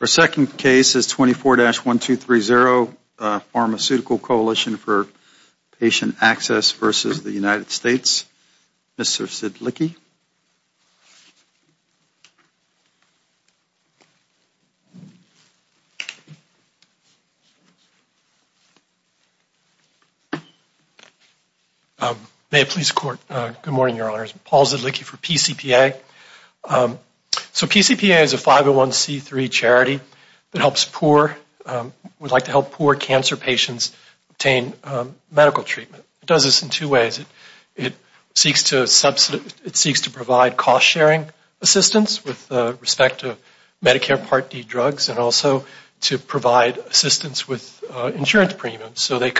Our second case is 24-1230, Pharmaceutical Coalition for Patient Access versus the United States. Mr. Zedlicky. May it please the Court. Good morning, Your Honors. Paul Zedlicky for PCPA. So PCPA is a 501c3 charity that helps poor, would like to help poor cancer patients obtain medical treatment. It does this in two ways. It seeks to provide cost-sharing assistance with respect to Medicare Part D drugs and also to provide assistance with insurance premiums so the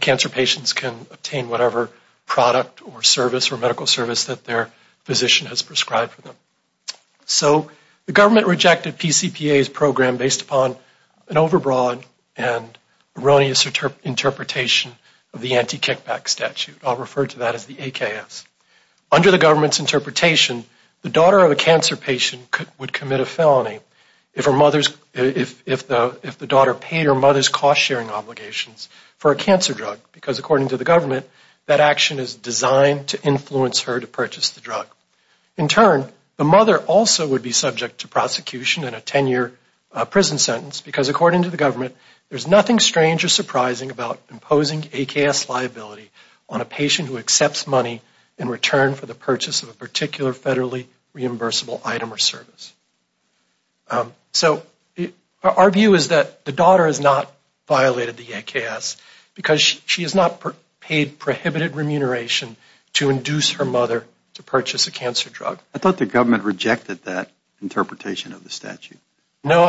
cancer patients can obtain whatever product or service or medical service that their physician has prescribed for them. So the government rejected PCPA's program based upon an overbroad and erroneous interpretation of the anti-kickback statute. I'll refer to that as the AKS. Under the government's interpretation, the daughter of a cancer patient would commit a felony if the daughter paid her mother's cost-sharing obligations for a cancer drug because according to the government, that action is designed to influence her to purchase the drug. In turn, the mother also would be subject to prosecution and a 10-year prison sentence because according to the government, there's nothing strange or surprising about imposing AKS liability on a patient who accepts money in return for the purchase of a particular federally reimbursable item or service. So our view is that the daughter has not violated the AKS because she has not paid prohibited remuneration to induce her mother to purchase a cancer drug. I thought the government rejected that interpretation of the statute. No,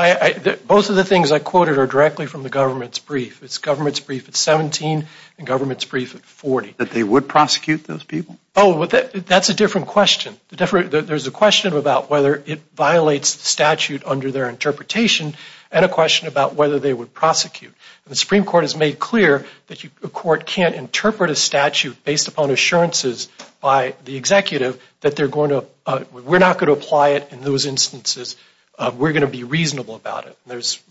both of the things I quoted are directly from the government's brief. It's government's brief at 17 and government's brief at 40. That they would prosecute those people? Oh, that's a different question. There's a question about whether it violates the statute under their interpretation and a question about whether they would prosecute. The Supreme Court has made clear that a court can't interpret a statute based upon assurances by the executive that they're going to, we're not going to apply it in those instances. We're going to be reasonable about it. There's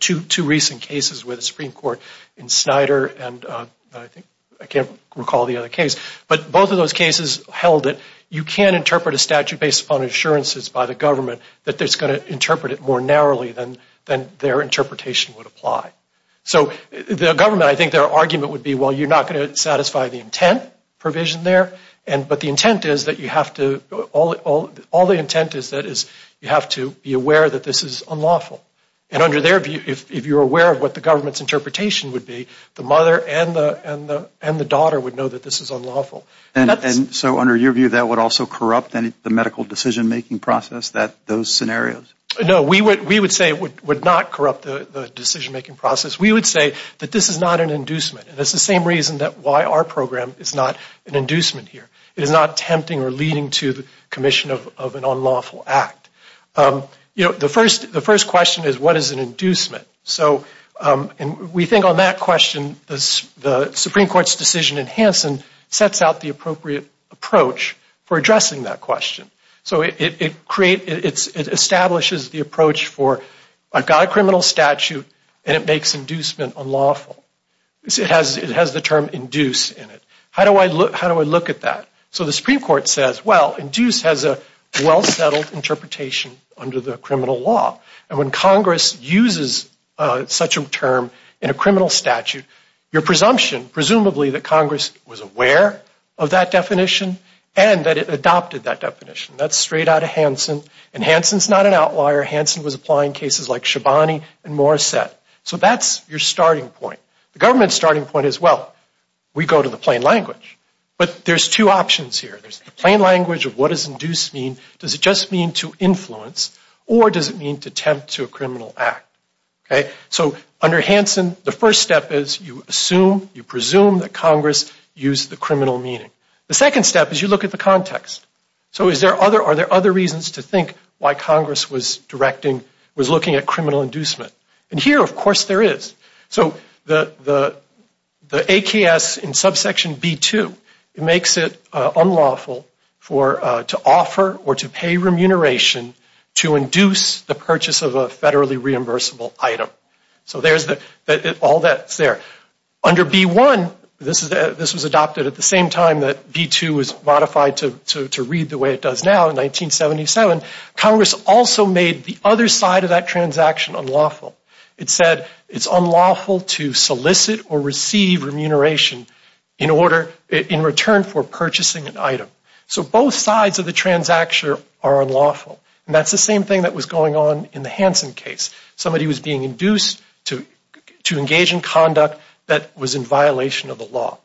two recent cases with the Supreme Court in Snyder and I can't recall the other case. But both of those cases held that you can interpret a statute based upon assurances by the government that it's going to interpret it more narrowly than their interpretation would apply. So the government, I think their argument would be, well, you're not going to satisfy the intent provision there, but the intent is that you have to, all the intent is that you have to be aware that this is unlawful. And under their view, if you're aware of what the government's interpretation would be, the mother and the daughter would know that this is unlawful. And so under your view that would also corrupt the medical decision-making process, those scenarios? No, we would say it would not corrupt the decision-making process. We would say that this is not an inducement. And it's the same reason that why our program is not an inducement here. It is not tempting or leading to the commission of an unlawful act. You know, the first question is what is an inducement? So we think on that question the Supreme Court's decision in Hansen sets out the appropriate approach for addressing that question. So it establishes the approach for I've got a criminal statute and it makes inducement unlawful. It has the term induce in it. How do I look at that? So the Supreme Court says, well, induce has a well-settled interpretation under the criminal law. And when Congress uses such a term in a criminal statute, your presumption, presumably, that Congress was aware of that definition and that it adopted that definition, that's straight out of Hansen. And Hansen's not an outlier. Hansen was applying cases like Shabani and Morissette. So that's your starting point. The government's starting point is, well, we go to the plain language. But there's two options here. There's the plain language of what does induce mean. Does it just mean to influence or does it mean to tempt to a criminal act? So under Hansen, the first step is you assume, you presume that Congress used the criminal meaning. The second step is you look at the context. So are there other reasons to think why Congress was looking at criminal inducement? And here, of course, there is. So the AKS in subsection B-2, it makes it unlawful to offer or to pay remuneration to induce the purchase of a federally reimbursable item. So there's all that's there. Under B-1, this was adopted at the same time that B-2 was modified to read the way it does now in 1977. Congress also made the other side of that transaction unlawful. It said it's unlawful to solicit or receive remuneration in return for purchasing an item. So both sides of the transaction are unlawful. And that's the same thing that was going on in the Hansen case. Somebody was being induced to engage in conduct that was in violation of the law.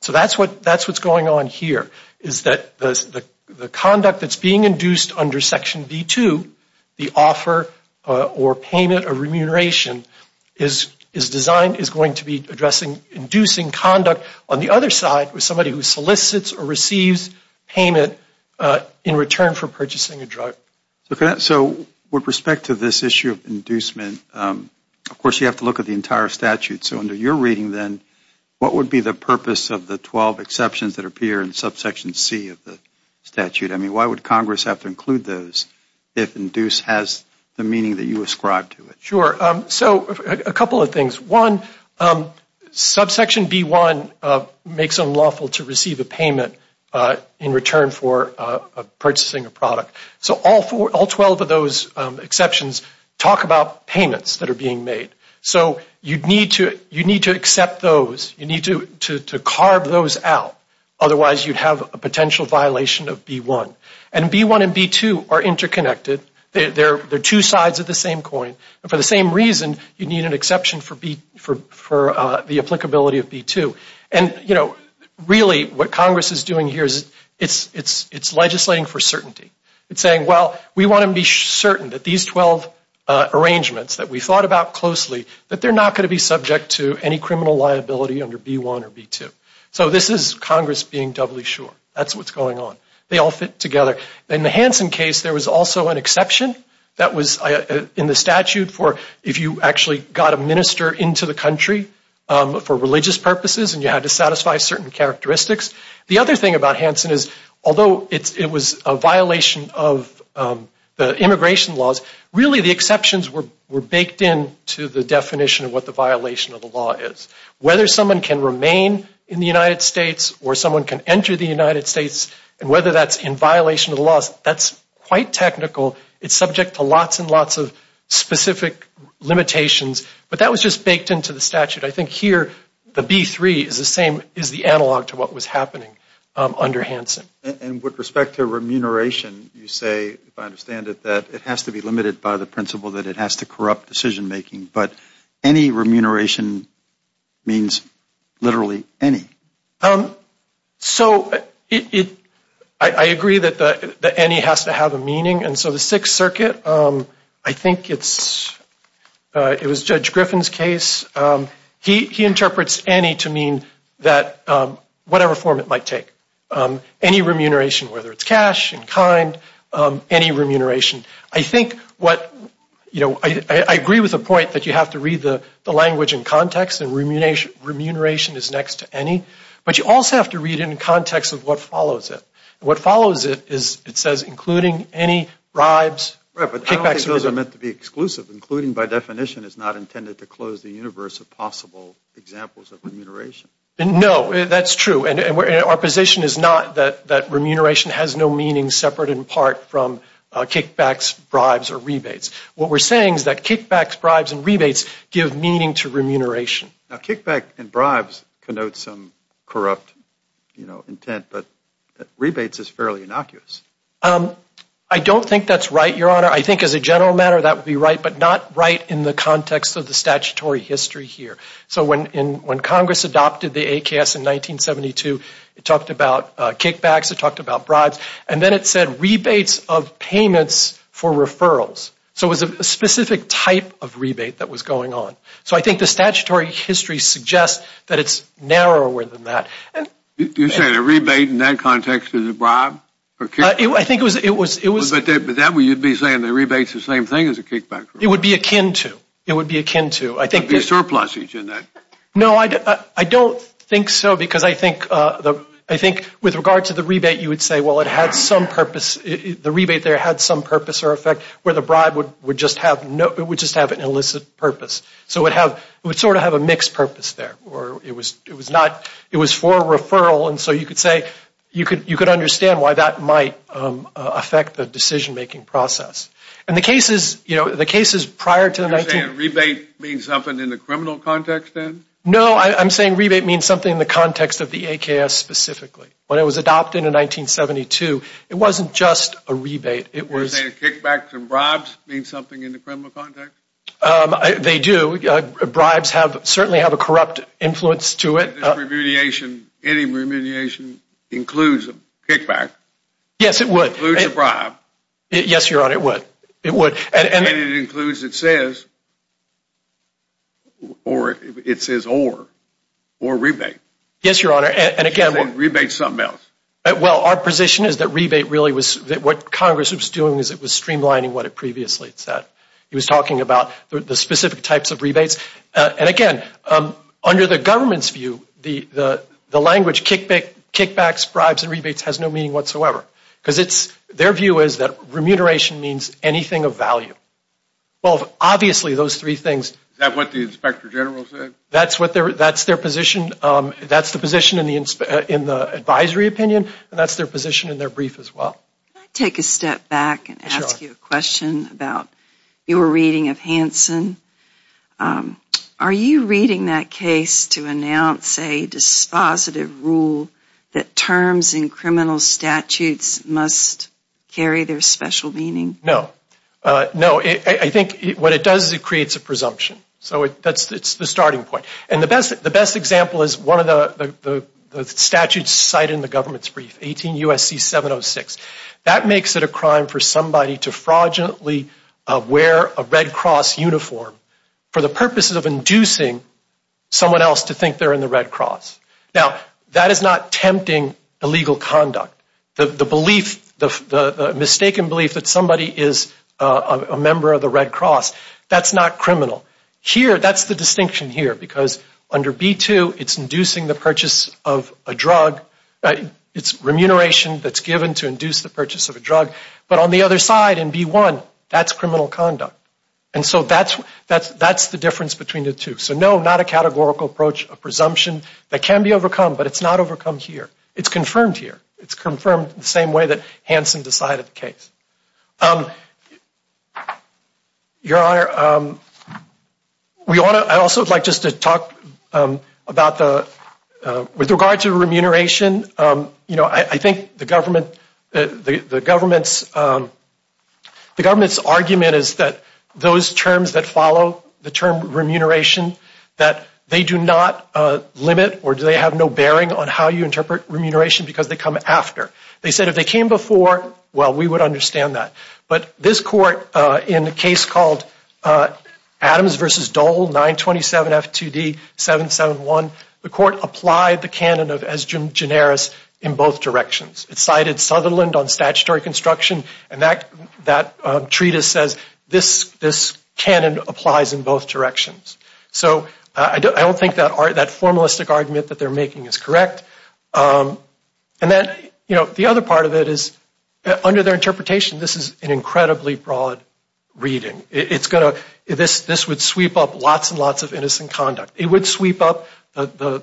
So that's what's going on here, is that the conduct that's being induced under section B-2, the offer or payment or remuneration, is designed, is going to be inducing conduct on the other side with somebody who solicits or receives payment in return for purchasing a drug. So with respect to this issue of inducement, of course, you have to look at the entire statute. So under your reading, then, what would be the purpose of the 12 exceptions that appear in subsection C of the statute? I mean, why would Congress have to include those if induce has the meaning that you ascribe to it? Sure. So a couple of things. One, subsection B-1 makes unlawful to receive a payment in return for purchasing a product. So all 12 of those exceptions talk about payments that are being made. So you need to accept those. You need to carve those out. Otherwise, you'd have a potential violation of B-1. And B-1 and B-2 are interconnected. They're two sides of the same coin. And for the same reason, you need an exception for the applicability of B-2. And, you know, really what Congress is doing here is it's legislating for certainty. It's saying, well, we want to be certain that these 12 arrangements that we thought about closely, that they're not going to be subject to any criminal liability under B-1 or B-2. So this is Congress being doubly sure. That's what's going on. They all fit together. In the Hansen case, there was also an exception that was in the statute for if you actually got a minister into the country for religious purposes and you had to satisfy certain characteristics. The other thing about Hansen is although it was a violation of the immigration laws, really the exceptions were baked into the definition of what the violation of the law is. Whether someone can remain in the United States or someone can enter the United States and whether that's in violation of the laws, that's quite technical. It's subject to lots and lots of specific limitations. But that was just baked into the statute. I think here the B-3 is the same, is the analog to what was happening under Hansen. And with respect to remuneration, you say, if I understand it, that it has to be limited by the principle that it has to corrupt decision-making. But any remuneration means literally any. So I agree that any has to have a meaning. And so the Sixth Circuit, I think it was Judge Griffin's case, he interprets any to mean that whatever form it might take. Any remuneration, whether it's cash, in kind, any remuneration. I think what, you know, I agree with the point that you have to read the language in context and remuneration is next to any. But you also have to read it in context of what follows it. And what follows it is it says including any bribes. Right, but I don't think those are meant to be exclusive. Including, by definition, is not intended to close the universe of possible examples of remuneration. No, that's true. And our position is not that remuneration has no meaning separate in part from kickbacks, bribes, or rebates. What we're saying is that kickbacks, bribes, and rebates give meaning to remuneration. Now, kickback and bribes connote some corrupt, you know, intent. But rebates is fairly innocuous. I don't think that's right, Your Honor. I think as a general matter that would be right, but not right in the context of the statutory history here. So when Congress adopted the AKS in 1972, it talked about kickbacks, it talked about bribes. And then it said rebates of payments for referrals. So it was a specific type of rebate that was going on. So I think the statutory history suggests that it's narrower than that. You're saying a rebate in that context is a bribe? I think it was. But that way you'd be saying the rebate's the same thing as a kickback. It would be akin to. It would be akin to. There would be a surplusage in that. No, I don't think so because I think with regard to the rebate, you would say, well, it had some purpose. The rebate there had some purpose or effect where the bribe would just have an illicit purpose. So it would sort of have a mixed purpose there. It was for a referral. And so you could say you could understand why that might affect the decision-making process. And the cases prior to the 19th. You're saying a rebate means something in the criminal context then? No, I'm saying rebate means something in the context of the AKS specifically. When it was adopted in 1972, it wasn't just a rebate. You're saying a kickback to bribes means something in the criminal context? They do. Bribes certainly have a corrupt influence to it. Any remuneration includes a kickback. Yes, it would. Includes a bribe. Yes, Your Honor, it would. And it includes, it says, or it says or, or rebate. Yes, Your Honor, and again. Rebate's something else. Well, our position is that rebate really was, what Congress was doing was it was streamlining what it previously said. It was talking about the specific types of rebates. And again, under the government's view, the language kickbacks, bribes, and rebates has no meaning whatsoever. Because it's, their view is that remuneration means anything of value. Well, obviously those three things. Is that what the Inspector General said? That's what their, that's their position. That's the position in the advisory opinion. And that's their position in their brief as well. Can I take a step back and ask you a question about your reading of Hansen? Are you reading that case to announce a dispositive rule that terms in criminal statutes must carry their special meaning? No. No, I think what it does is it creates a presumption. So that's the starting point. And the best example is one of the statutes cited in the government's brief, 18 U.S.C. 706. That makes it a crime for somebody to fraudulently wear a Red Cross uniform for the purposes of inducing someone else to think they're in the Red Cross. Now, that is not tempting illegal conduct. The belief, the mistaken belief that somebody is a member of the Red Cross, that's not criminal. Here, that's the distinction here, because under B-2, it's inducing the purchase of a drug. It's remuneration that's given to induce the purchase of a drug. But on the other side, in B-1, that's criminal conduct. And so that's the difference between the two. So no, not a categorical approach, a presumption that can be overcome, but it's not overcome here. It's confirmed here. It's confirmed the same way that Hansen decided the case. Your Honor, I also would like just to talk about the, with regard to remuneration, I think the government's argument is that those terms that follow, the term remuneration, that they do not limit or do they have no bearing on how you interpret remuneration because they come after. They said if they came before, well, we would understand that. But this court, in a case called Adams v. Dole, 927 F2D 771, the court applied the canon of es generis in both directions. It cited Sutherland on statutory construction, and that treatise says this canon applies in both directions. So I don't think that formalistic argument that they're making is correct. And then, you know, the other part of it is under their interpretation, this is an incredibly broad reading. It's going to, this would sweep up lots and lots of innocent conduct. It would sweep up the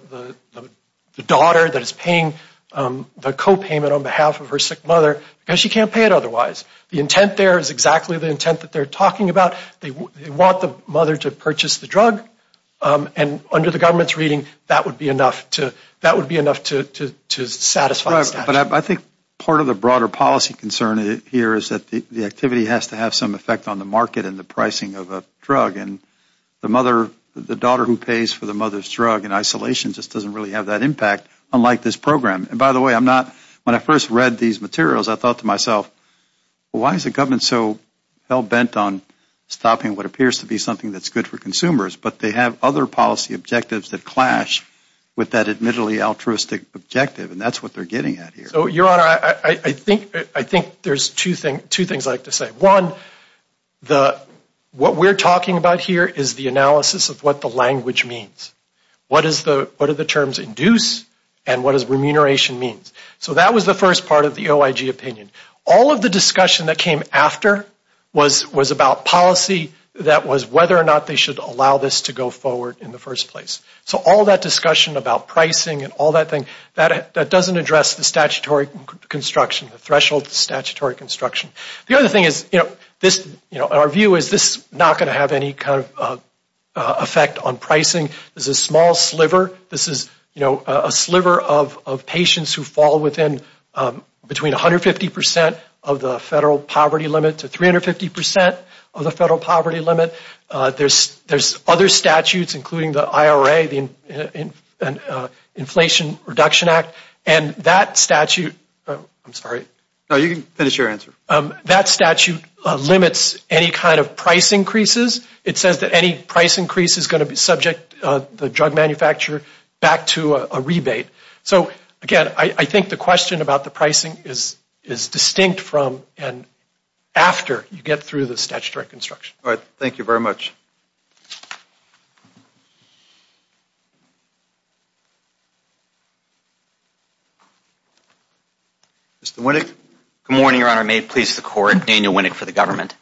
daughter that is paying the copayment on behalf of her sick mother because she can't pay it otherwise. The intent there is exactly the intent that they're talking about. They want the mother to purchase the drug, and under the government's reading, that would be enough to satisfy the statute. But I think part of the broader policy concern here is that the activity has to have some effect on the market and the pricing of a drug. And the mother, the daughter who pays for the mother's drug in isolation just doesn't really have that impact, unlike this program. And by the way, I'm not, when I first read these materials, I thought to myself, why is the government so hell-bent on stopping what appears to be something that's good for consumers, but they have other policy objectives that clash with that admittedly altruistic objective, and that's what they're getting at here. So, Your Honor, I think there's two things I'd like to say. One, what we're talking about here is the analysis of what the language means. What do the terms induce, and what does remuneration mean? So that was the first part of the OIG opinion. All of the discussion that came after was about policy, that was whether or not they should allow this to go forward in the first place. So all that discussion about pricing and all that thing, that doesn't address the statutory construction, the threshold statutory construction. The other thing is, you know, our view is this is not going to have any kind of effect on pricing. This is a small sliver. This is, you know, a sliver of patients who fall within between 150 percent of the federal poverty limit to 350 percent of the federal poverty limit. There's other statutes, including the IRA, the Inflation Reduction Act, and that statute, I'm sorry. No, you can finish your answer. That statute limits any kind of price increases. It says that any price increase is going to subject the drug manufacturer back to a rebate. So, again, I think the question about the pricing is distinct from and after you get through the statutory construction. All right. Thank you very much. Mr. Winnick. Good morning, Your Honor. May it please the Court. Daniel Winnick for the government.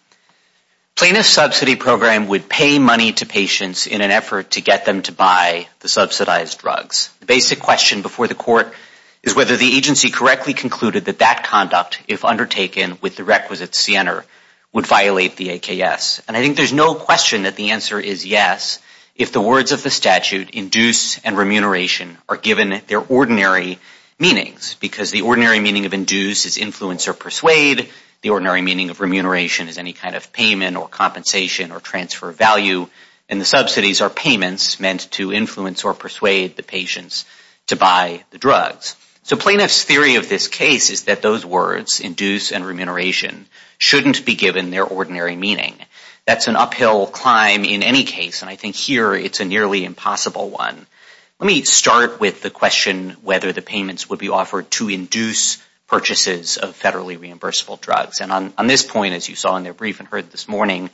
Plaintiff subsidy program would pay money to patients in an effort to get them to buy the subsidized drugs. The basic question before the Court is whether the agency correctly concluded that that conduct, if undertaken with the requisite CNR, would violate the AKS. And I think there's no question that the answer is yes, if the words of the statute, induce and remuneration, are given their ordinary meanings. Because the ordinary meaning of induce is influence or persuade. The ordinary meaning of remuneration is any kind of payment or compensation or transfer of value. And the subsidies are payments meant to influence or persuade the patients to buy the drugs. So plaintiff's theory of this case is that those words, induce and remuneration, shouldn't be given their ordinary meaning. That's an uphill climb in any case, and I think here it's a nearly impossible one. Let me start with the question whether the payments would be offered to induce purchases of federally reimbursable drugs. And on this point, as you saw in their brief and heard this morning,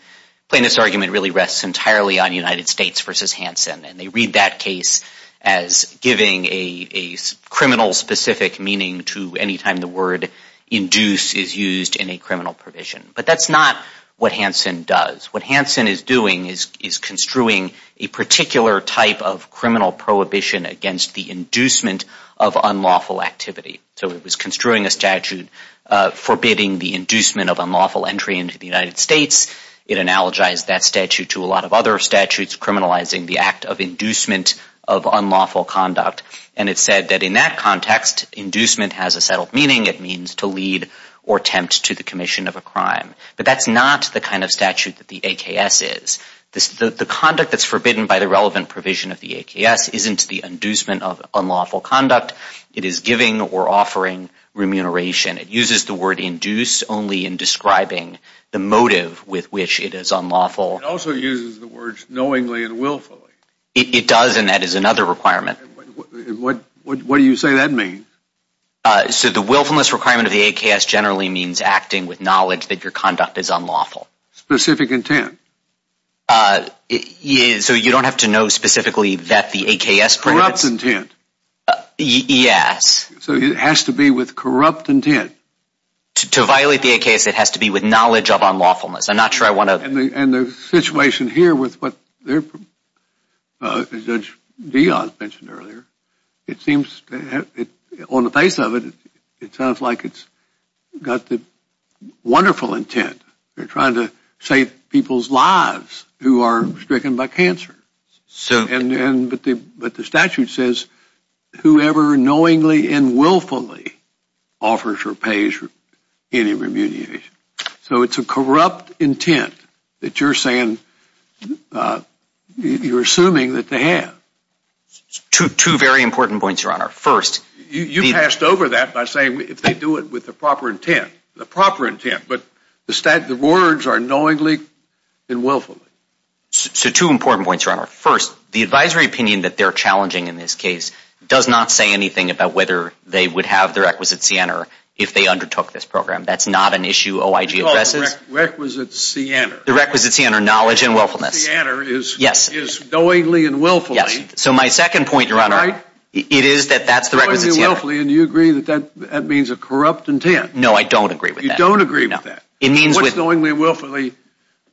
plaintiff's argument really rests entirely on United States v. Hansen. And they read that case as giving a criminal-specific meaning to any time the word induce is used in a criminal provision. But that's not what Hansen does. What Hansen is doing is construing a particular type of criminal prohibition against the inducement of unlawful activity. So it was construing a statute forbidding the inducement of unlawful entry into the United States. It analogized that statute to a lot of other statutes criminalizing the act of inducement of unlawful conduct. And it said that in that context, inducement has a settled meaning. It means to lead or tempt to the commission of a crime. But that's not the kind of statute that the AKS is. The conduct that's forbidden by the relevant provision of the AKS isn't the inducement of unlawful conduct. It is giving or offering remuneration. It uses the word induce only in describing the motive with which it is unlawful. It also uses the words knowingly and willfully. It does, and that is another requirement. What do you say that means? So the willfulness requirement of the AKS generally means acting with knowledge that your conduct is unlawful. Specific intent. So you don't have to know specifically that the AKS prohibits... Corrupt intent. Yes. So it has to be with corrupt intent. To violate the AKS, it has to be with knowledge of unlawfulness. I'm not sure I want to... And the situation here with what Judge Dioz mentioned earlier, it seems on the face of it, it sounds like it's got the wonderful intent. They're trying to save people's lives who are stricken by cancer. But the statute says whoever knowingly and willfully offers or pays any remuneration. So it's a corrupt intent that you're saying, you're assuming that they have. Two very important points, Your Honor. First... You passed over that by saying if they do it with the proper intent, the proper intent. But the words are knowingly and willfully. So two important points, Your Honor. First, the advisory opinion that they're challenging in this case does not say anything about whether they would have their The requisite scienter. The requisite scienter, knowledge and willfulness. The scienter is knowingly and willfully. So my second point, Your Honor, it is that that's the requisite scienter. Knowingly and willfully, and you agree that that means a corrupt intent. No, I don't agree with that. You don't agree with that. It means... What's knowingly and willfully?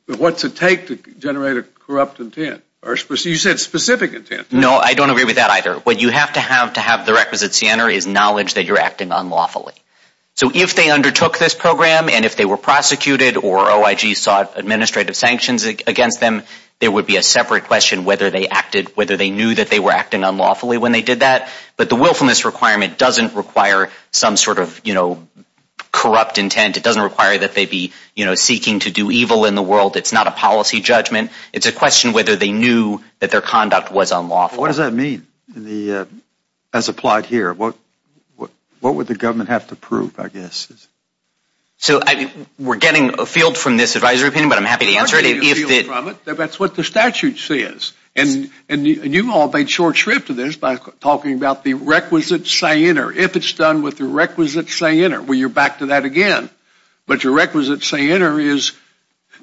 What's it take to generate a corrupt intent? You said specific intent. No, I don't agree with that either. What you have to have to have the requisite scienter is knowledge that you're acting unlawfully. So if they undertook this program and if they were prosecuted or OIG sought administrative sanctions against them, there would be a separate question whether they acted, whether they knew that they were acting unlawfully when they did that. But the willfulness requirement doesn't require some sort of, you know, corrupt intent. It doesn't require that they be, you know, seeking to do evil in the world. It's not a policy judgment. It's a question whether they knew that their conduct was unlawful. What does that mean as applied here? What would the government have to prove, I guess? So we're getting a field from this advisory opinion, but I'm happy to answer it. That's what the statute says. And you all made short shrift of this by talking about the requisite scienter. If it's done with the requisite scienter, well, you're back to that again. But your requisite scienter is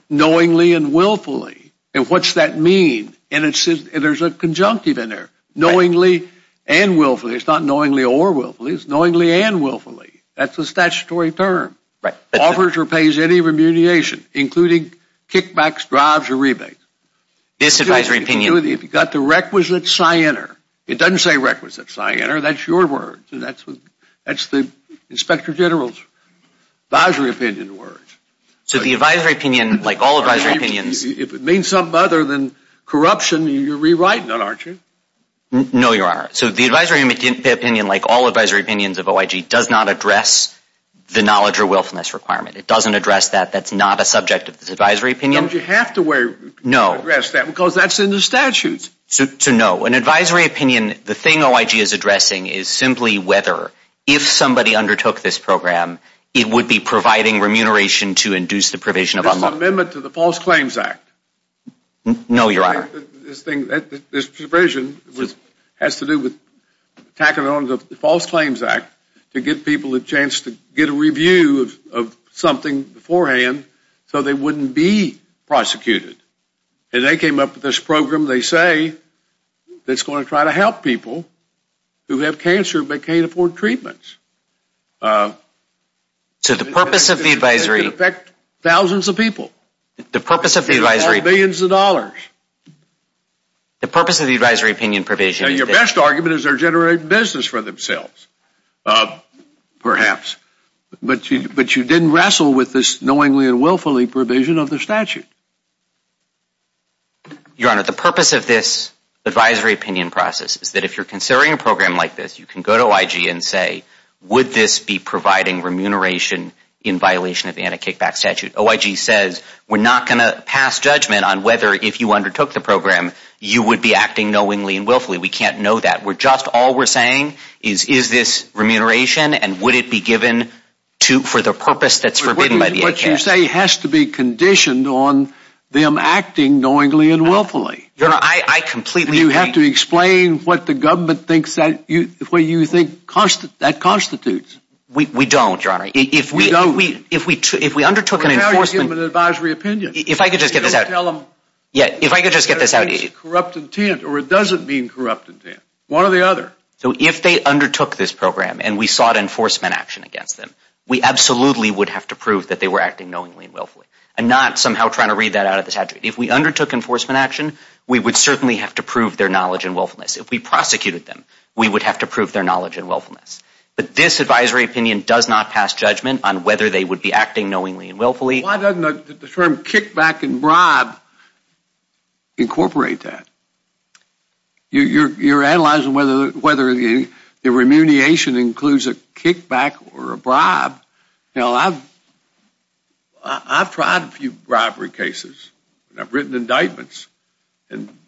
knowingly and willfully. And what's that mean? And there's a conjunctive in there, knowingly and willfully. It's not knowingly or willfully. It's knowingly and willfully. That's the statutory term. Offers or pays any remuneration, including kickbacks, drives, or rebates. This advisory opinion. If you've got the requisite scienter. It doesn't say requisite scienter. That's your words. That's the inspector general's advisory opinion words. So the advisory opinion, like all advisory opinions. If it means something other than corruption, you're rewriting it, aren't you? No, you are. So the advisory opinion, like all advisory opinions of OIG, does not address the knowledge or willfulness requirement. It doesn't address that. That's not a subject of this advisory opinion. Don't you have to address that? No. Because that's in the statutes. So, no. An advisory opinion, the thing OIG is addressing is simply whether, if somebody undertook this program, it would be providing remuneration to induce the provision of unlawful. This is an amendment to the False Claims Act. No, Your Honor. This provision has to do with tacking on the False Claims Act to give people a chance to get a review of something beforehand so they wouldn't be prosecuted. And they came up with this program, they say, that's going to try to help people who have cancer but can't afford treatments. So the purpose of the advisory. It could affect thousands of people. The purpose of the advisory. Millions of dollars. The purpose of the advisory opinion provision. Your best argument is they're generating business for themselves, perhaps. But you didn't wrestle with this knowingly and willfully provision of the statute. Your Honor, the purpose of this advisory opinion process is that if you're considering a program like this, you can go to OIG and say, would this be providing remuneration in violation of the anti-kickback statute? OIG says, we're not going to pass judgment on whether, if you undertook the program, you would be acting knowingly and willfully. We can't know that. Just all we're saying is, is this remuneration and would it be given for the purpose that's forbidden by the ACA? What you say has to be conditioned on them acting knowingly and willfully. Your Honor, I completely agree. You have to explain what the government thinks that constitutes. We don't, Your Honor. We don't. If we undertook an enforcement… Well, now you're giving them an advisory opinion. If I could just get this out. You don't tell them… If I could just get this out. …corrupt intent or it doesn't mean corrupt intent. One or the other. So if they undertook this program and we sought enforcement action against them, we absolutely would have to prove that they were acting knowingly and willfully and not somehow trying to read that out of the statute. If we undertook enforcement action, we would certainly have to prove their knowledge and willfulness. If we prosecuted them, we would have to prove their knowledge and willfulness. But this advisory opinion does not pass judgment on whether they would be acting knowingly and willfully. Why doesn't the term kickback and bribe incorporate that? You're analyzing whether the remuneration includes a kickback or a bribe. Now, I've tried a few bribery cases. I've written indictments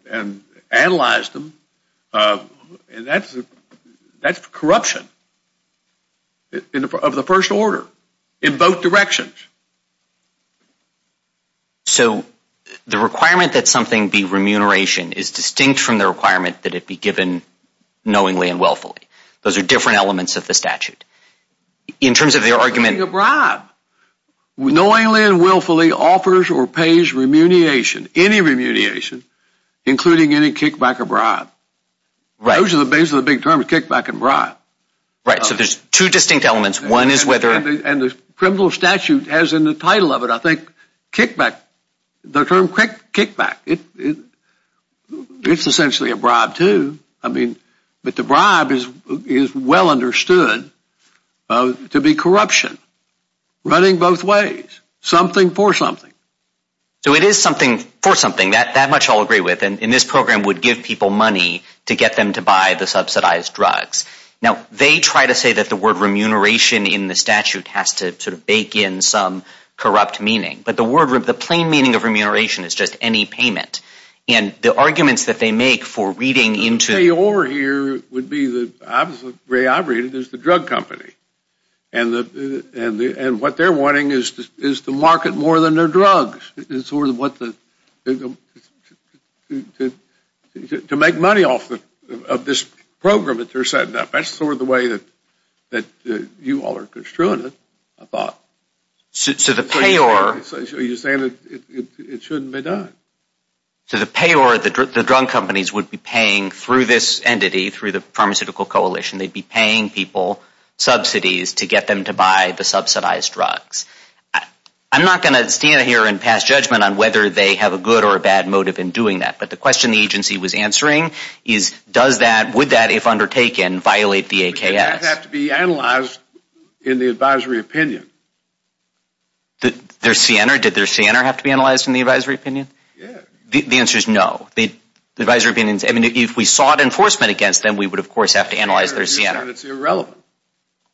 and analyzed them. That's corruption of the first order in both directions. So the requirement that something be remuneration is distinct from the requirement that it be given knowingly and willfully. Those are different elements of the statute. In terms of their argument… Knowingly and willfully offers or pays remuneration, any remuneration, including any kickback or bribe. Those are the basic big terms, kickback and bribe. Right, so there's two distinct elements. One is whether… And the criminal statute has in the title of it, I think, kickback. The term kickback, it's essentially a bribe too. But the bribe is well understood to be corruption running both ways. Something for something. So it is something for something. That much I'll agree with. And this program would give people money to get them to buy the subsidized drugs. Now, they try to say that the word remuneration in the statute has to sort of bake in some corrupt meaning. But the plain meaning of remuneration is just any payment. And the arguments that they make for reading into… The payor here would be the opposite way I read it is the drug company. And what they're wanting is to market more than their drugs. It's sort of what the… To make money off of this program that they're setting up. That's sort of the way that you all are construing it, I thought. So the payor… You're saying that it shouldn't be done. So the payor, the drug companies, would be paying through this entity, through the Pharmaceutical Coalition, they'd be paying people subsidies to get them to buy the subsidized drugs. I'm not going to stand here and pass judgment on whether they have a good or a bad motive in doing that. But the question the agency was answering is, would that, if undertaken, violate the AKS? That would have to be analyzed in the advisory opinion. Their Siena? Did their Siena have to be analyzed in the advisory opinion? The answer is no. If we sought enforcement against them, we would, of course, have to analyze their Siena.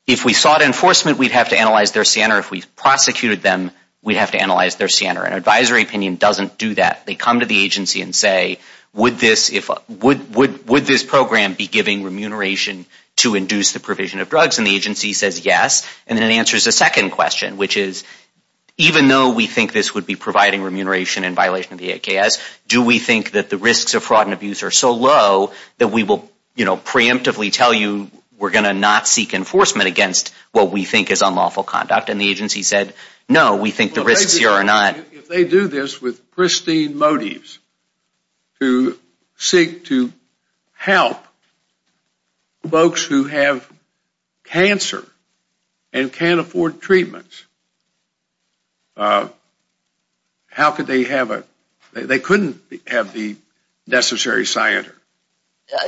If we sought enforcement, we'd have to analyze their Siena. If we prosecuted them, we'd have to analyze their Siena. An advisory opinion doesn't do that. They come to the agency and say, would this program be giving remuneration to induce the provision of drugs? And the agency says yes. And then it answers the second question, which is, even though we think this would be providing remuneration in violation of the AKS, do we think that the risks of fraud and abuse are so low that we will preemptively tell you we're going to not seek enforcement against what we think is unlawful conduct? And the agency said, no, we think the risks here are not. If they do this with pristine motives to seek to help folks who have cancer and can't afford treatments, how could they have a... They couldn't have the necessary Siena.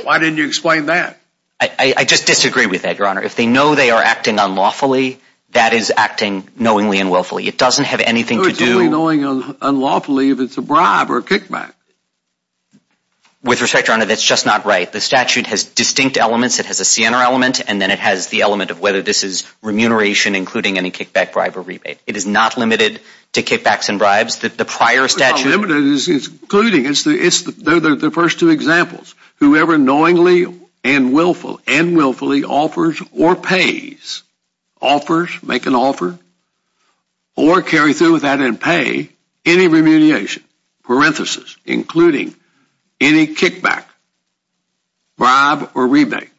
Why didn't you explain that? I just disagree with that, Your Honor. If they know they are acting unlawfully, that is acting knowingly and willfully. It doesn't have anything to do... With respect, Your Honor, that's just not right. The statute has distinct elements. It has a Siena element, and then it has the element of whether this is remuneration, including any kickback, bribe, or rebate. It is not limited to kickbacks and bribes. The prior statute... It's including. It's the first two examples. Whoever knowingly and willfully offers or pays, offers, make an offer, or carry through with that and pay, any remuneration, parenthesis, including any kickback, bribe, or rebate.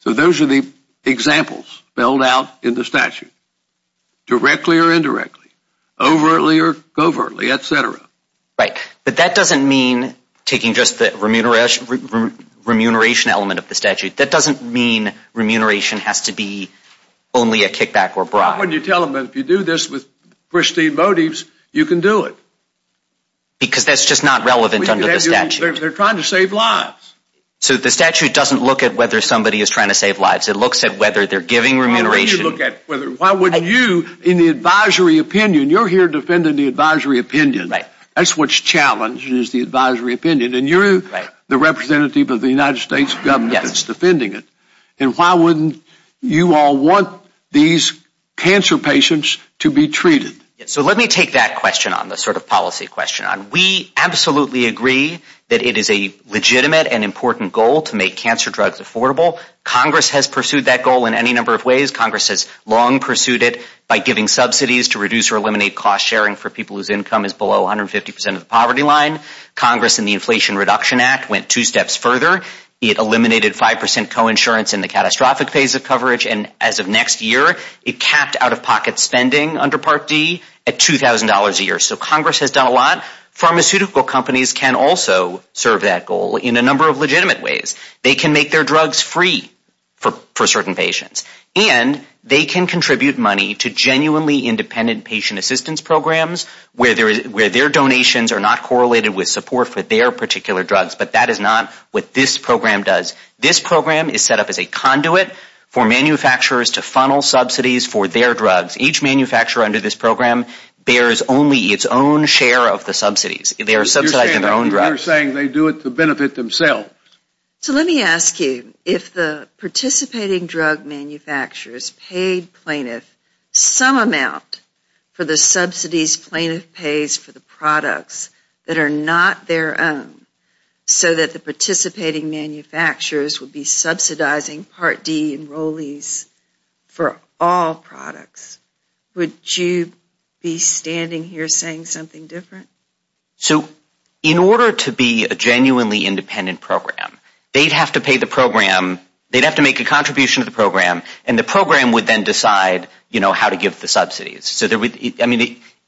So those are the examples spelled out in the statute, directly or indirectly, overtly or covertly, et cetera. Right. But that doesn't mean taking just the remuneration element of the statute. That doesn't mean remuneration has to be only a kickback or bribe. Why wouldn't you tell them that if you do this with pristine motives, you can do it? Because that's just not relevant under the statute. They're trying to save lives. So the statute doesn't look at whether somebody is trying to save lives. It looks at whether they're giving remuneration. Why wouldn't you, in the advisory opinion, you're here defending the advisory opinion. Right. That's what's challenged is the advisory opinion, and you're the representative of the United States government that's defending it. And why wouldn't you all want these cancer patients to be treated? So let me take that question on, the sort of policy question on. We absolutely agree that it is a legitimate and important goal to make cancer drugs affordable. Congress has pursued that goal in any number of ways. Congress has long pursued it by giving subsidies to reduce or eliminate cost sharing for people whose income is below 150 percent of the poverty line. Congress in the Inflation Reduction Act went two steps further. It eliminated 5 percent coinsurance in the catastrophic phase of coverage, and as of next year, it capped out-of-pocket spending under Part D at $2,000 a year. So Congress has done a lot. Pharmaceutical companies can also serve that goal in a number of legitimate ways. They can make their drugs free for certain patients, and they can contribute money to genuinely independent patient assistance programs where their donations are not correlated with support for their particular drugs, but that is not what this program does. This program is set up as a conduit for manufacturers to funnel subsidies for their drugs. Each manufacturer under this program bears only its own share of the subsidies. They are subsidizing their own drugs. You're saying they do it to benefit themselves. So let me ask you, if the participating drug manufacturers paid plaintiffs some amount for the subsidies plaintiff pays for the products that are not their own so that the participating manufacturers would be subsidizing Part D enrollees for all products, would you be standing here saying something different? So in order to be a genuinely independent program, they'd have to pay the program, they'd have to make a contribution to the program, and the program would then decide how to give the subsidies.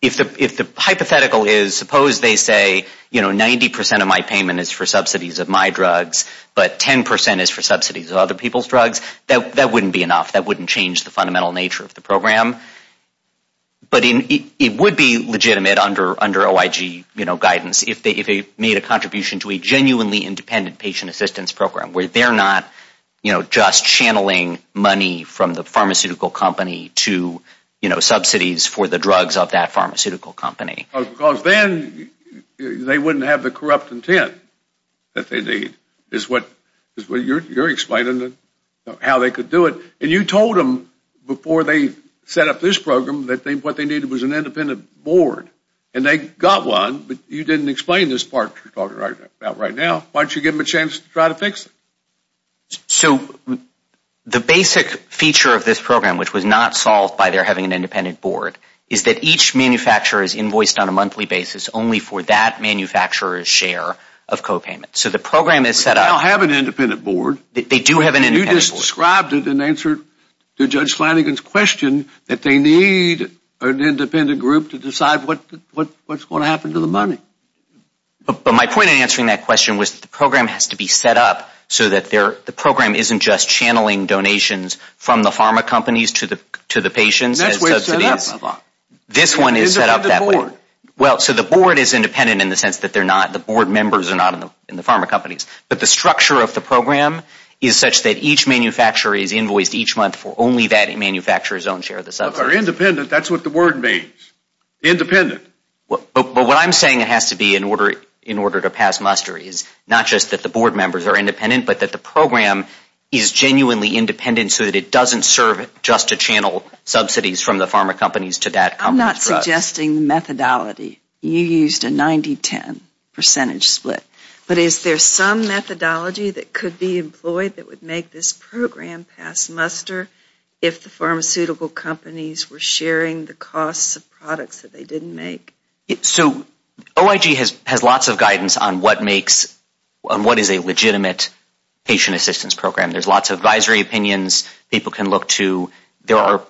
If the hypothetical is suppose they say 90% of my payment is for subsidies of my drugs, but 10% is for subsidies of other people's drugs, that wouldn't be enough. That wouldn't change the fundamental nature of the program. But it would be legitimate under OIG guidance if they made a contribution to a genuinely independent patient assistance program where they're not just channeling money from the pharmaceutical company to subsidies for the drugs of that pharmaceutical company. Because then they wouldn't have the corrupt intent that they need, is what you're explaining, how they could do it. And you told them before they set up this program that what they needed was an independent board. And they got one, but you didn't explain this part you're talking about right now. Why don't you give them a chance to try to fix it? So the basic feature of this program, which was not solved by their having an independent board, is that each manufacturer is invoiced on a monthly basis only for that manufacturer's share of copayments. So the program is set up. They don't have an independent board. They do have an independent board. You just described it and answered Judge Flanagan's question that they need an independent group to decide what's going to happen to the money. But my point in answering that question was the program has to be set up so that the program isn't just channeling donations from the pharma companies to the patients. That's where it's set up. This one is set up that way. Well, so the board is independent in the sense that the board members are not in the pharma companies. But the structure of the program is such that each manufacturer is invoiced each month for only that manufacturer's own share of the subsidies. Independent, that's what the word means. Independent. But what I'm saying it has to be in order to pass muster is not just that the board members are independent, but that the program is genuinely independent so that it doesn't serve just to channel subsidies from the pharma companies to that company. I'm not suggesting the methodology. You used a 90-10 percentage split. But is there some methodology that could be employed that would make this program pass muster if the pharmaceutical companies were sharing the costs of products that they didn't make? So OIG has lots of guidance on what is a legitimate patient assistance program. There's lots of advisory opinions people can look to. There are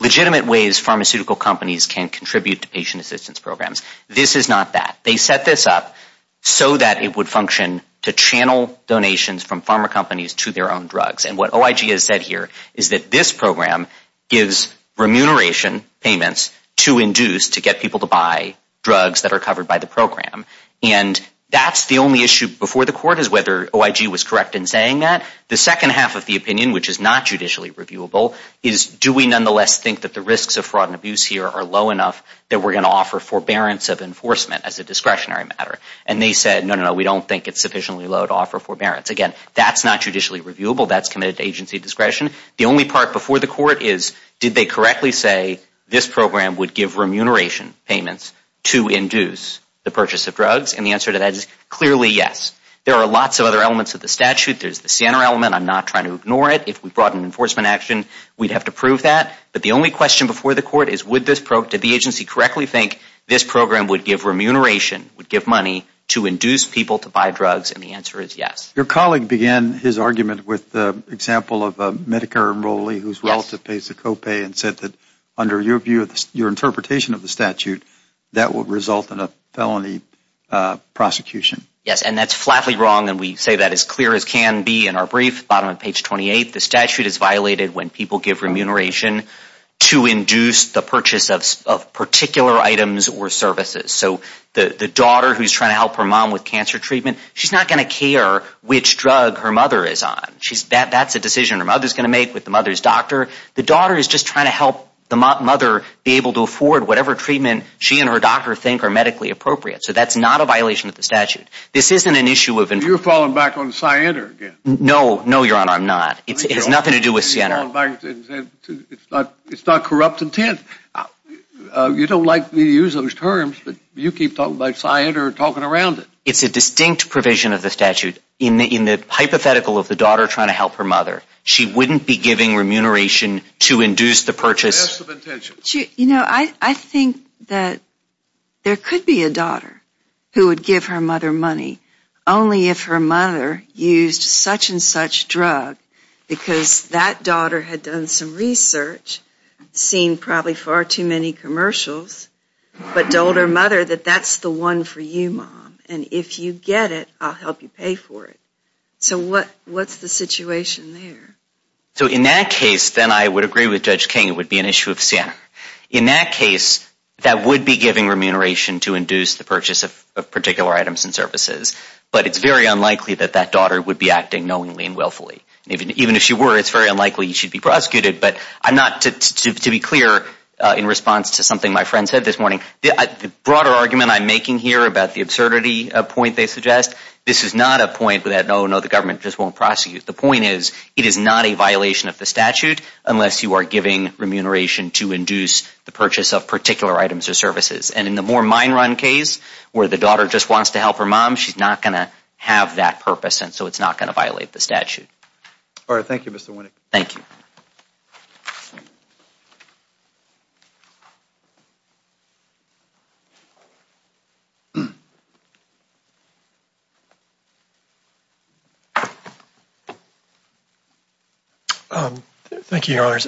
legitimate ways pharmaceutical companies can contribute to patient assistance programs. This is not that. They set this up so that it would function to channel donations from pharma companies to their own drugs. And what OIG has said here is that this program gives remuneration payments to induce to get people to buy drugs that are covered by the program. And that's the only issue before the court is whether OIG was correct in saying that. The second half of the opinion, which is not judicially reviewable, is do we nonetheless think that the risks of fraud and abuse here are low enough that we're going to offer forbearance of enforcement as a discretionary matter? And they said, no, no, no, we don't think it's sufficiently low to offer forbearance. Again, that's not judicially reviewable. That's committed to agency discretion. The only part before the court is did they correctly say this program would give remuneration payments to induce the purchase of drugs? And the answer to that is clearly yes. There are lots of other elements of the statute. There's the SANR element. I'm not trying to ignore it. If we brought an enforcement action, we'd have to prove that. But the only question before the court is did the agency correctly think this program would give remuneration, would give money to induce people to buy drugs? And the answer is yes. Your colleague began his argument with the example of a Medicare enrollee whose relative pays the copay and said that under your interpretation of the statute, that would result in a felony prosecution. Yes, and that's flatly wrong, and we say that as clear as can be in our brief. Bottom of page 28, the statute is violated when people give remuneration to induce the purchase of particular items or services. So the daughter who's trying to help her mom with cancer treatment, she's not going to care which drug her mother is on. That's a decision her mother's going to make with the mother's doctor. The daughter is just trying to help the mother be able to afford whatever treatment she and her doctor think are medically appropriate. So that's not a violation of the statute. This isn't an issue of an – You're falling back on SANR again. No, no, Your Honor, I'm not. It has nothing to do with SANR. It's not corrupt intent. You don't like me to use those terms, but you keep talking about SANR and talking around it. It's a distinct provision of the statute. In the hypothetical of the daughter trying to help her mother, she wouldn't be giving remuneration to induce the purchase. You know, I think that there could be a daughter who would give her mother money only if her mother used such and such drug because that daughter had done some research, seen probably far too many commercials, but told her mother that that's the one for you, Mom, and if you get it, I'll help you pay for it. So what's the situation there? So in that case, then I would agree with Judge King it would be an issue of SANR. In that case, that would be giving remuneration to induce the purchase of particular items and services, but it's very unlikely that that daughter would be acting knowingly and willfully. Even if she were, it's very unlikely she'd be prosecuted. But to be clear in response to something my friend said this morning, the broader argument I'm making here about the absurdity point they suggest, this is not a point that, oh, no, the government just won't prosecute. The point is it is not a violation of the statute unless you are giving remuneration to induce the purchase of particular items or services. And in the more mine run case where the daughter just wants to help her mom, she's not going to have that purpose and so it's not going to violate the statute. All right. Thank you, Mr. Winnick. Thank you. Thank you, Your Honors.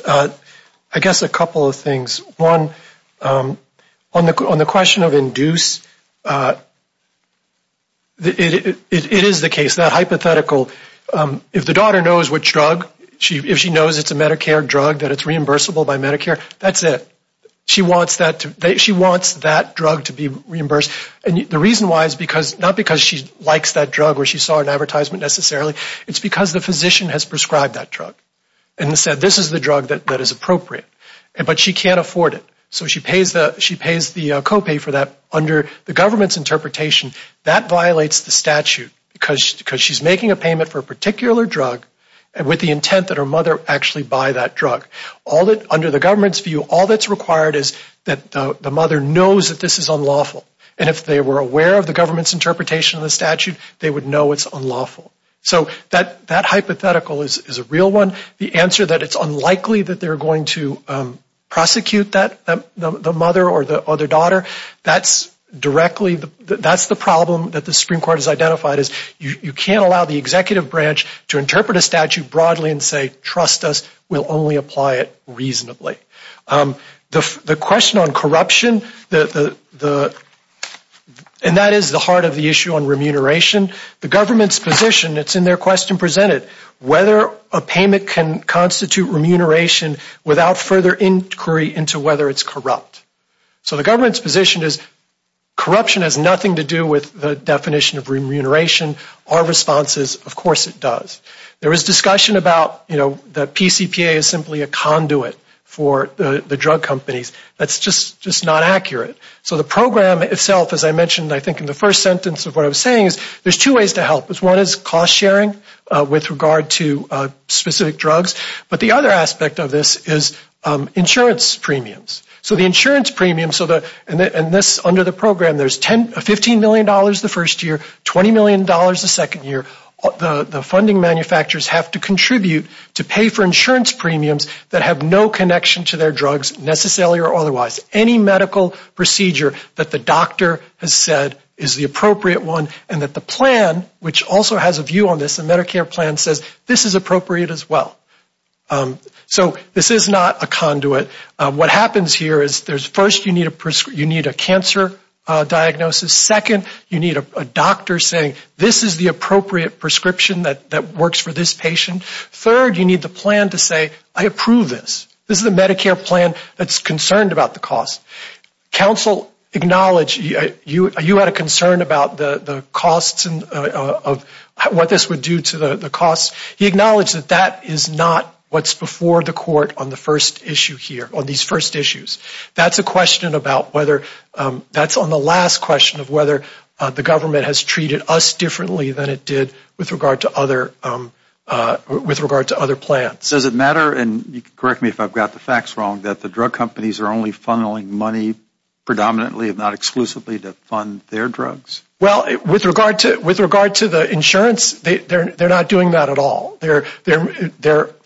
I guess a couple of things. One, on the question of induce, it is the case, that hypothetical, if the daughter knows which drug, if she knows it's a Medicare drug, that it's reimbursable by Medicare, that's it. She wants that drug to be reimbursed. And the reason why is not because she likes that drug or she saw an advertisement necessarily, it's because the physician has prescribed that drug and said this is the drug that is appropriate. But she can't afford it. So she pays the copay for that. Under the government's interpretation, that violates the statute because she's making a payment for a particular drug with the intent that her mother actually buy that drug. Under the government's view, all that's required is that the mother knows that this is unlawful. And if they were aware of the government's interpretation of the statute, they would know it's unlawful. So that hypothetical is a real one. The answer that it's unlikely that they're going to prosecute the mother or the daughter, that's the problem that the Supreme Court has identified, is you can't allow the executive branch to interpret a statute broadly and say trust us, we'll only apply it reasonably. The question on corruption, and that is the heart of the issue on remuneration, the government's position, it's in their question presented, whether a payment can constitute remuneration without further inquiry into whether it's corrupt. So the government's position is corruption has nothing to do with the definition of remuneration. Our response is of course it does. There is discussion about, you know, that PCPA is simply a conduit for the drug companies. That's just not accurate. So the program itself, as I mentioned I think in the first sentence of what I was saying, is there's two ways to help. One is cost sharing with regard to specific drugs. But the other aspect of this is insurance premiums. So the insurance premiums, and this under the program, there's $15 million the first year, $20 million the second year. The funding manufacturers have to contribute to pay for insurance premiums that have no connection to their drugs necessarily or otherwise. Any medical procedure that the doctor has said is the appropriate one and that the plan, which also has a view on this, a Medicare plan, says this is appropriate as well. So this is not a conduit. What happens here is first you need a cancer diagnosis. Second, you need a doctor saying this is the appropriate prescription that works for this patient. Third, you need the plan to say I approve this. This is a Medicare plan that's concerned about the cost. Counsel acknowledged you had a concern about the costs and what this would do to the costs. He acknowledged that that is not what's before the court on the first issue here, on these first issues. That's a question about whether that's on the last question of whether the government has treated us differently than it did with regard to other plans. Does it matter, and correct me if I've got the facts wrong, that the drug companies are only funneling money predominantly and not exclusively to fund their drugs? Well, with regard to the insurance, they're not doing that at all. They're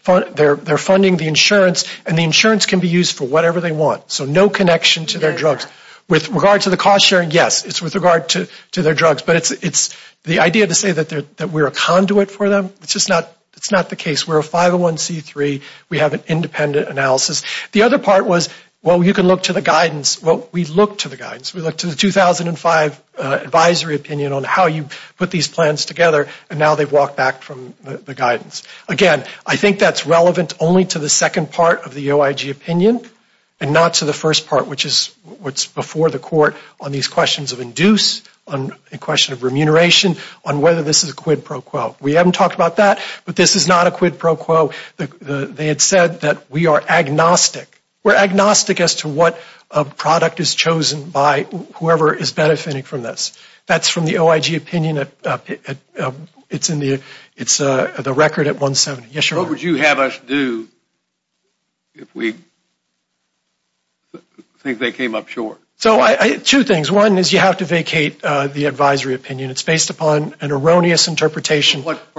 funding the insurance, and the insurance can be used for whatever they want. So no connection to their drugs. With regard to the cost sharing, yes, it's with regard to their drugs. But it's the idea to say that we're a conduit for them, it's just not the case. We're a 501C3. We have an independent analysis. The other part was, well, you can look to the guidance. Well, we looked to the guidance. We looked to the 2005 advisory opinion on how you put these plans together, and now they've walked back from the guidance. Again, I think that's relevant only to the second part of the OIG opinion and not to the first part, which is what's before the court on these questions of induce, on a question of remuneration, on whether this is a quid pro quo. We haven't talked about that, but this is not a quid pro quo. They had said that we are agnostic. We're agnostic as to what product is chosen by whoever is benefiting from this. That's from the OIG opinion. It's in the record at 170. Yes, sir? What would you have us do if we think they came up short? Two things. One is you have to vacate the advisory opinion. It's based upon an erroneous interpretation. For what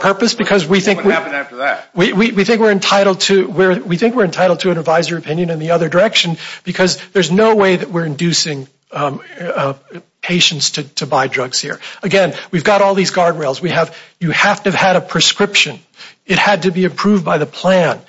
purpose? What would happen after that? We think we're entitled to an advisory opinion in the other direction because there's no way that we're inducing patients to buy drugs here. Again, we've got all these guardrails. You have to have had a prescription. It had to be approved by the plan.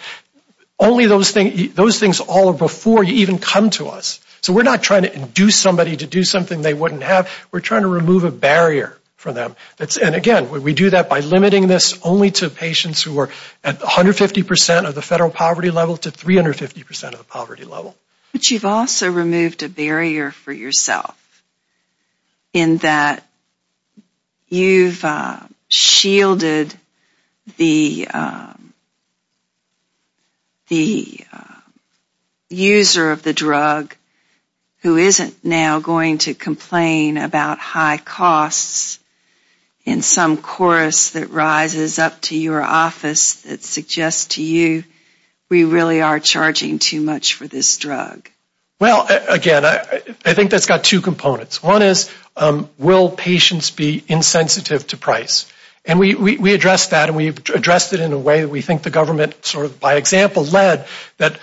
Only those things all before you even come to us. So we're not trying to induce somebody to do something they wouldn't have. We're trying to remove a barrier for them. Again, we do that by limiting this only to patients who are at 150% of the federal poverty level to 350% of the poverty level. But you've also removed a barrier for yourself in that you've shielded the user of the drug who isn't now going to complain about high costs in some chorus that rises up to your office that suggests to you we really are charging too much for this drug. Well, again, I think that's got two components. One is will patients be insensitive to price? And we address that and we've addressed it in a way that we think the government sort of by example led that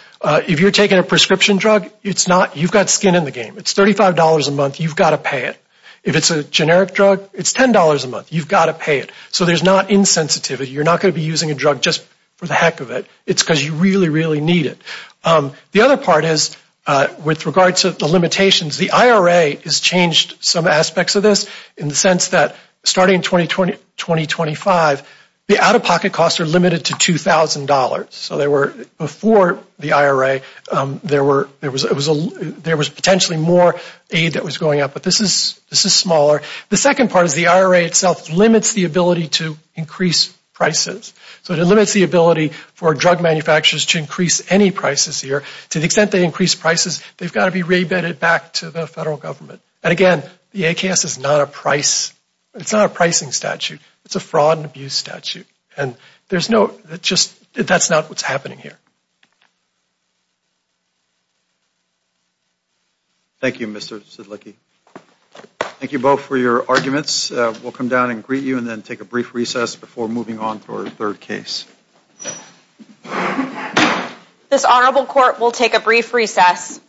if you're taking a prescription drug, you've got skin in the game. It's $35 a month. You've got to pay it. If it's a generic drug, it's $10 a month. You've got to pay it. So there's not insensitivity. You're not going to be using a drug just for the heck of it. It's because you really, really need it. The other part is with regard to the limitations, the IRA has changed some The out-of-pocket costs are limited to $2,000. So before the IRA, there was potentially more aid that was going up. But this is smaller. The second part is the IRA itself limits the ability to increase prices. So it limits the ability for drug manufacturers to increase any prices here. To the extent they increase prices, they've got to be re-vetted back to the federal government. And, again, the ACAS is not a pricing statute. It's a fraud and abuse statute. And that's not what's happening here. Thank you, Mr. Sidlicki. Thank you both for your arguments. We'll come down and greet you and then take a brief recess before moving on to our third case. This Honorable Court will take a brief recess.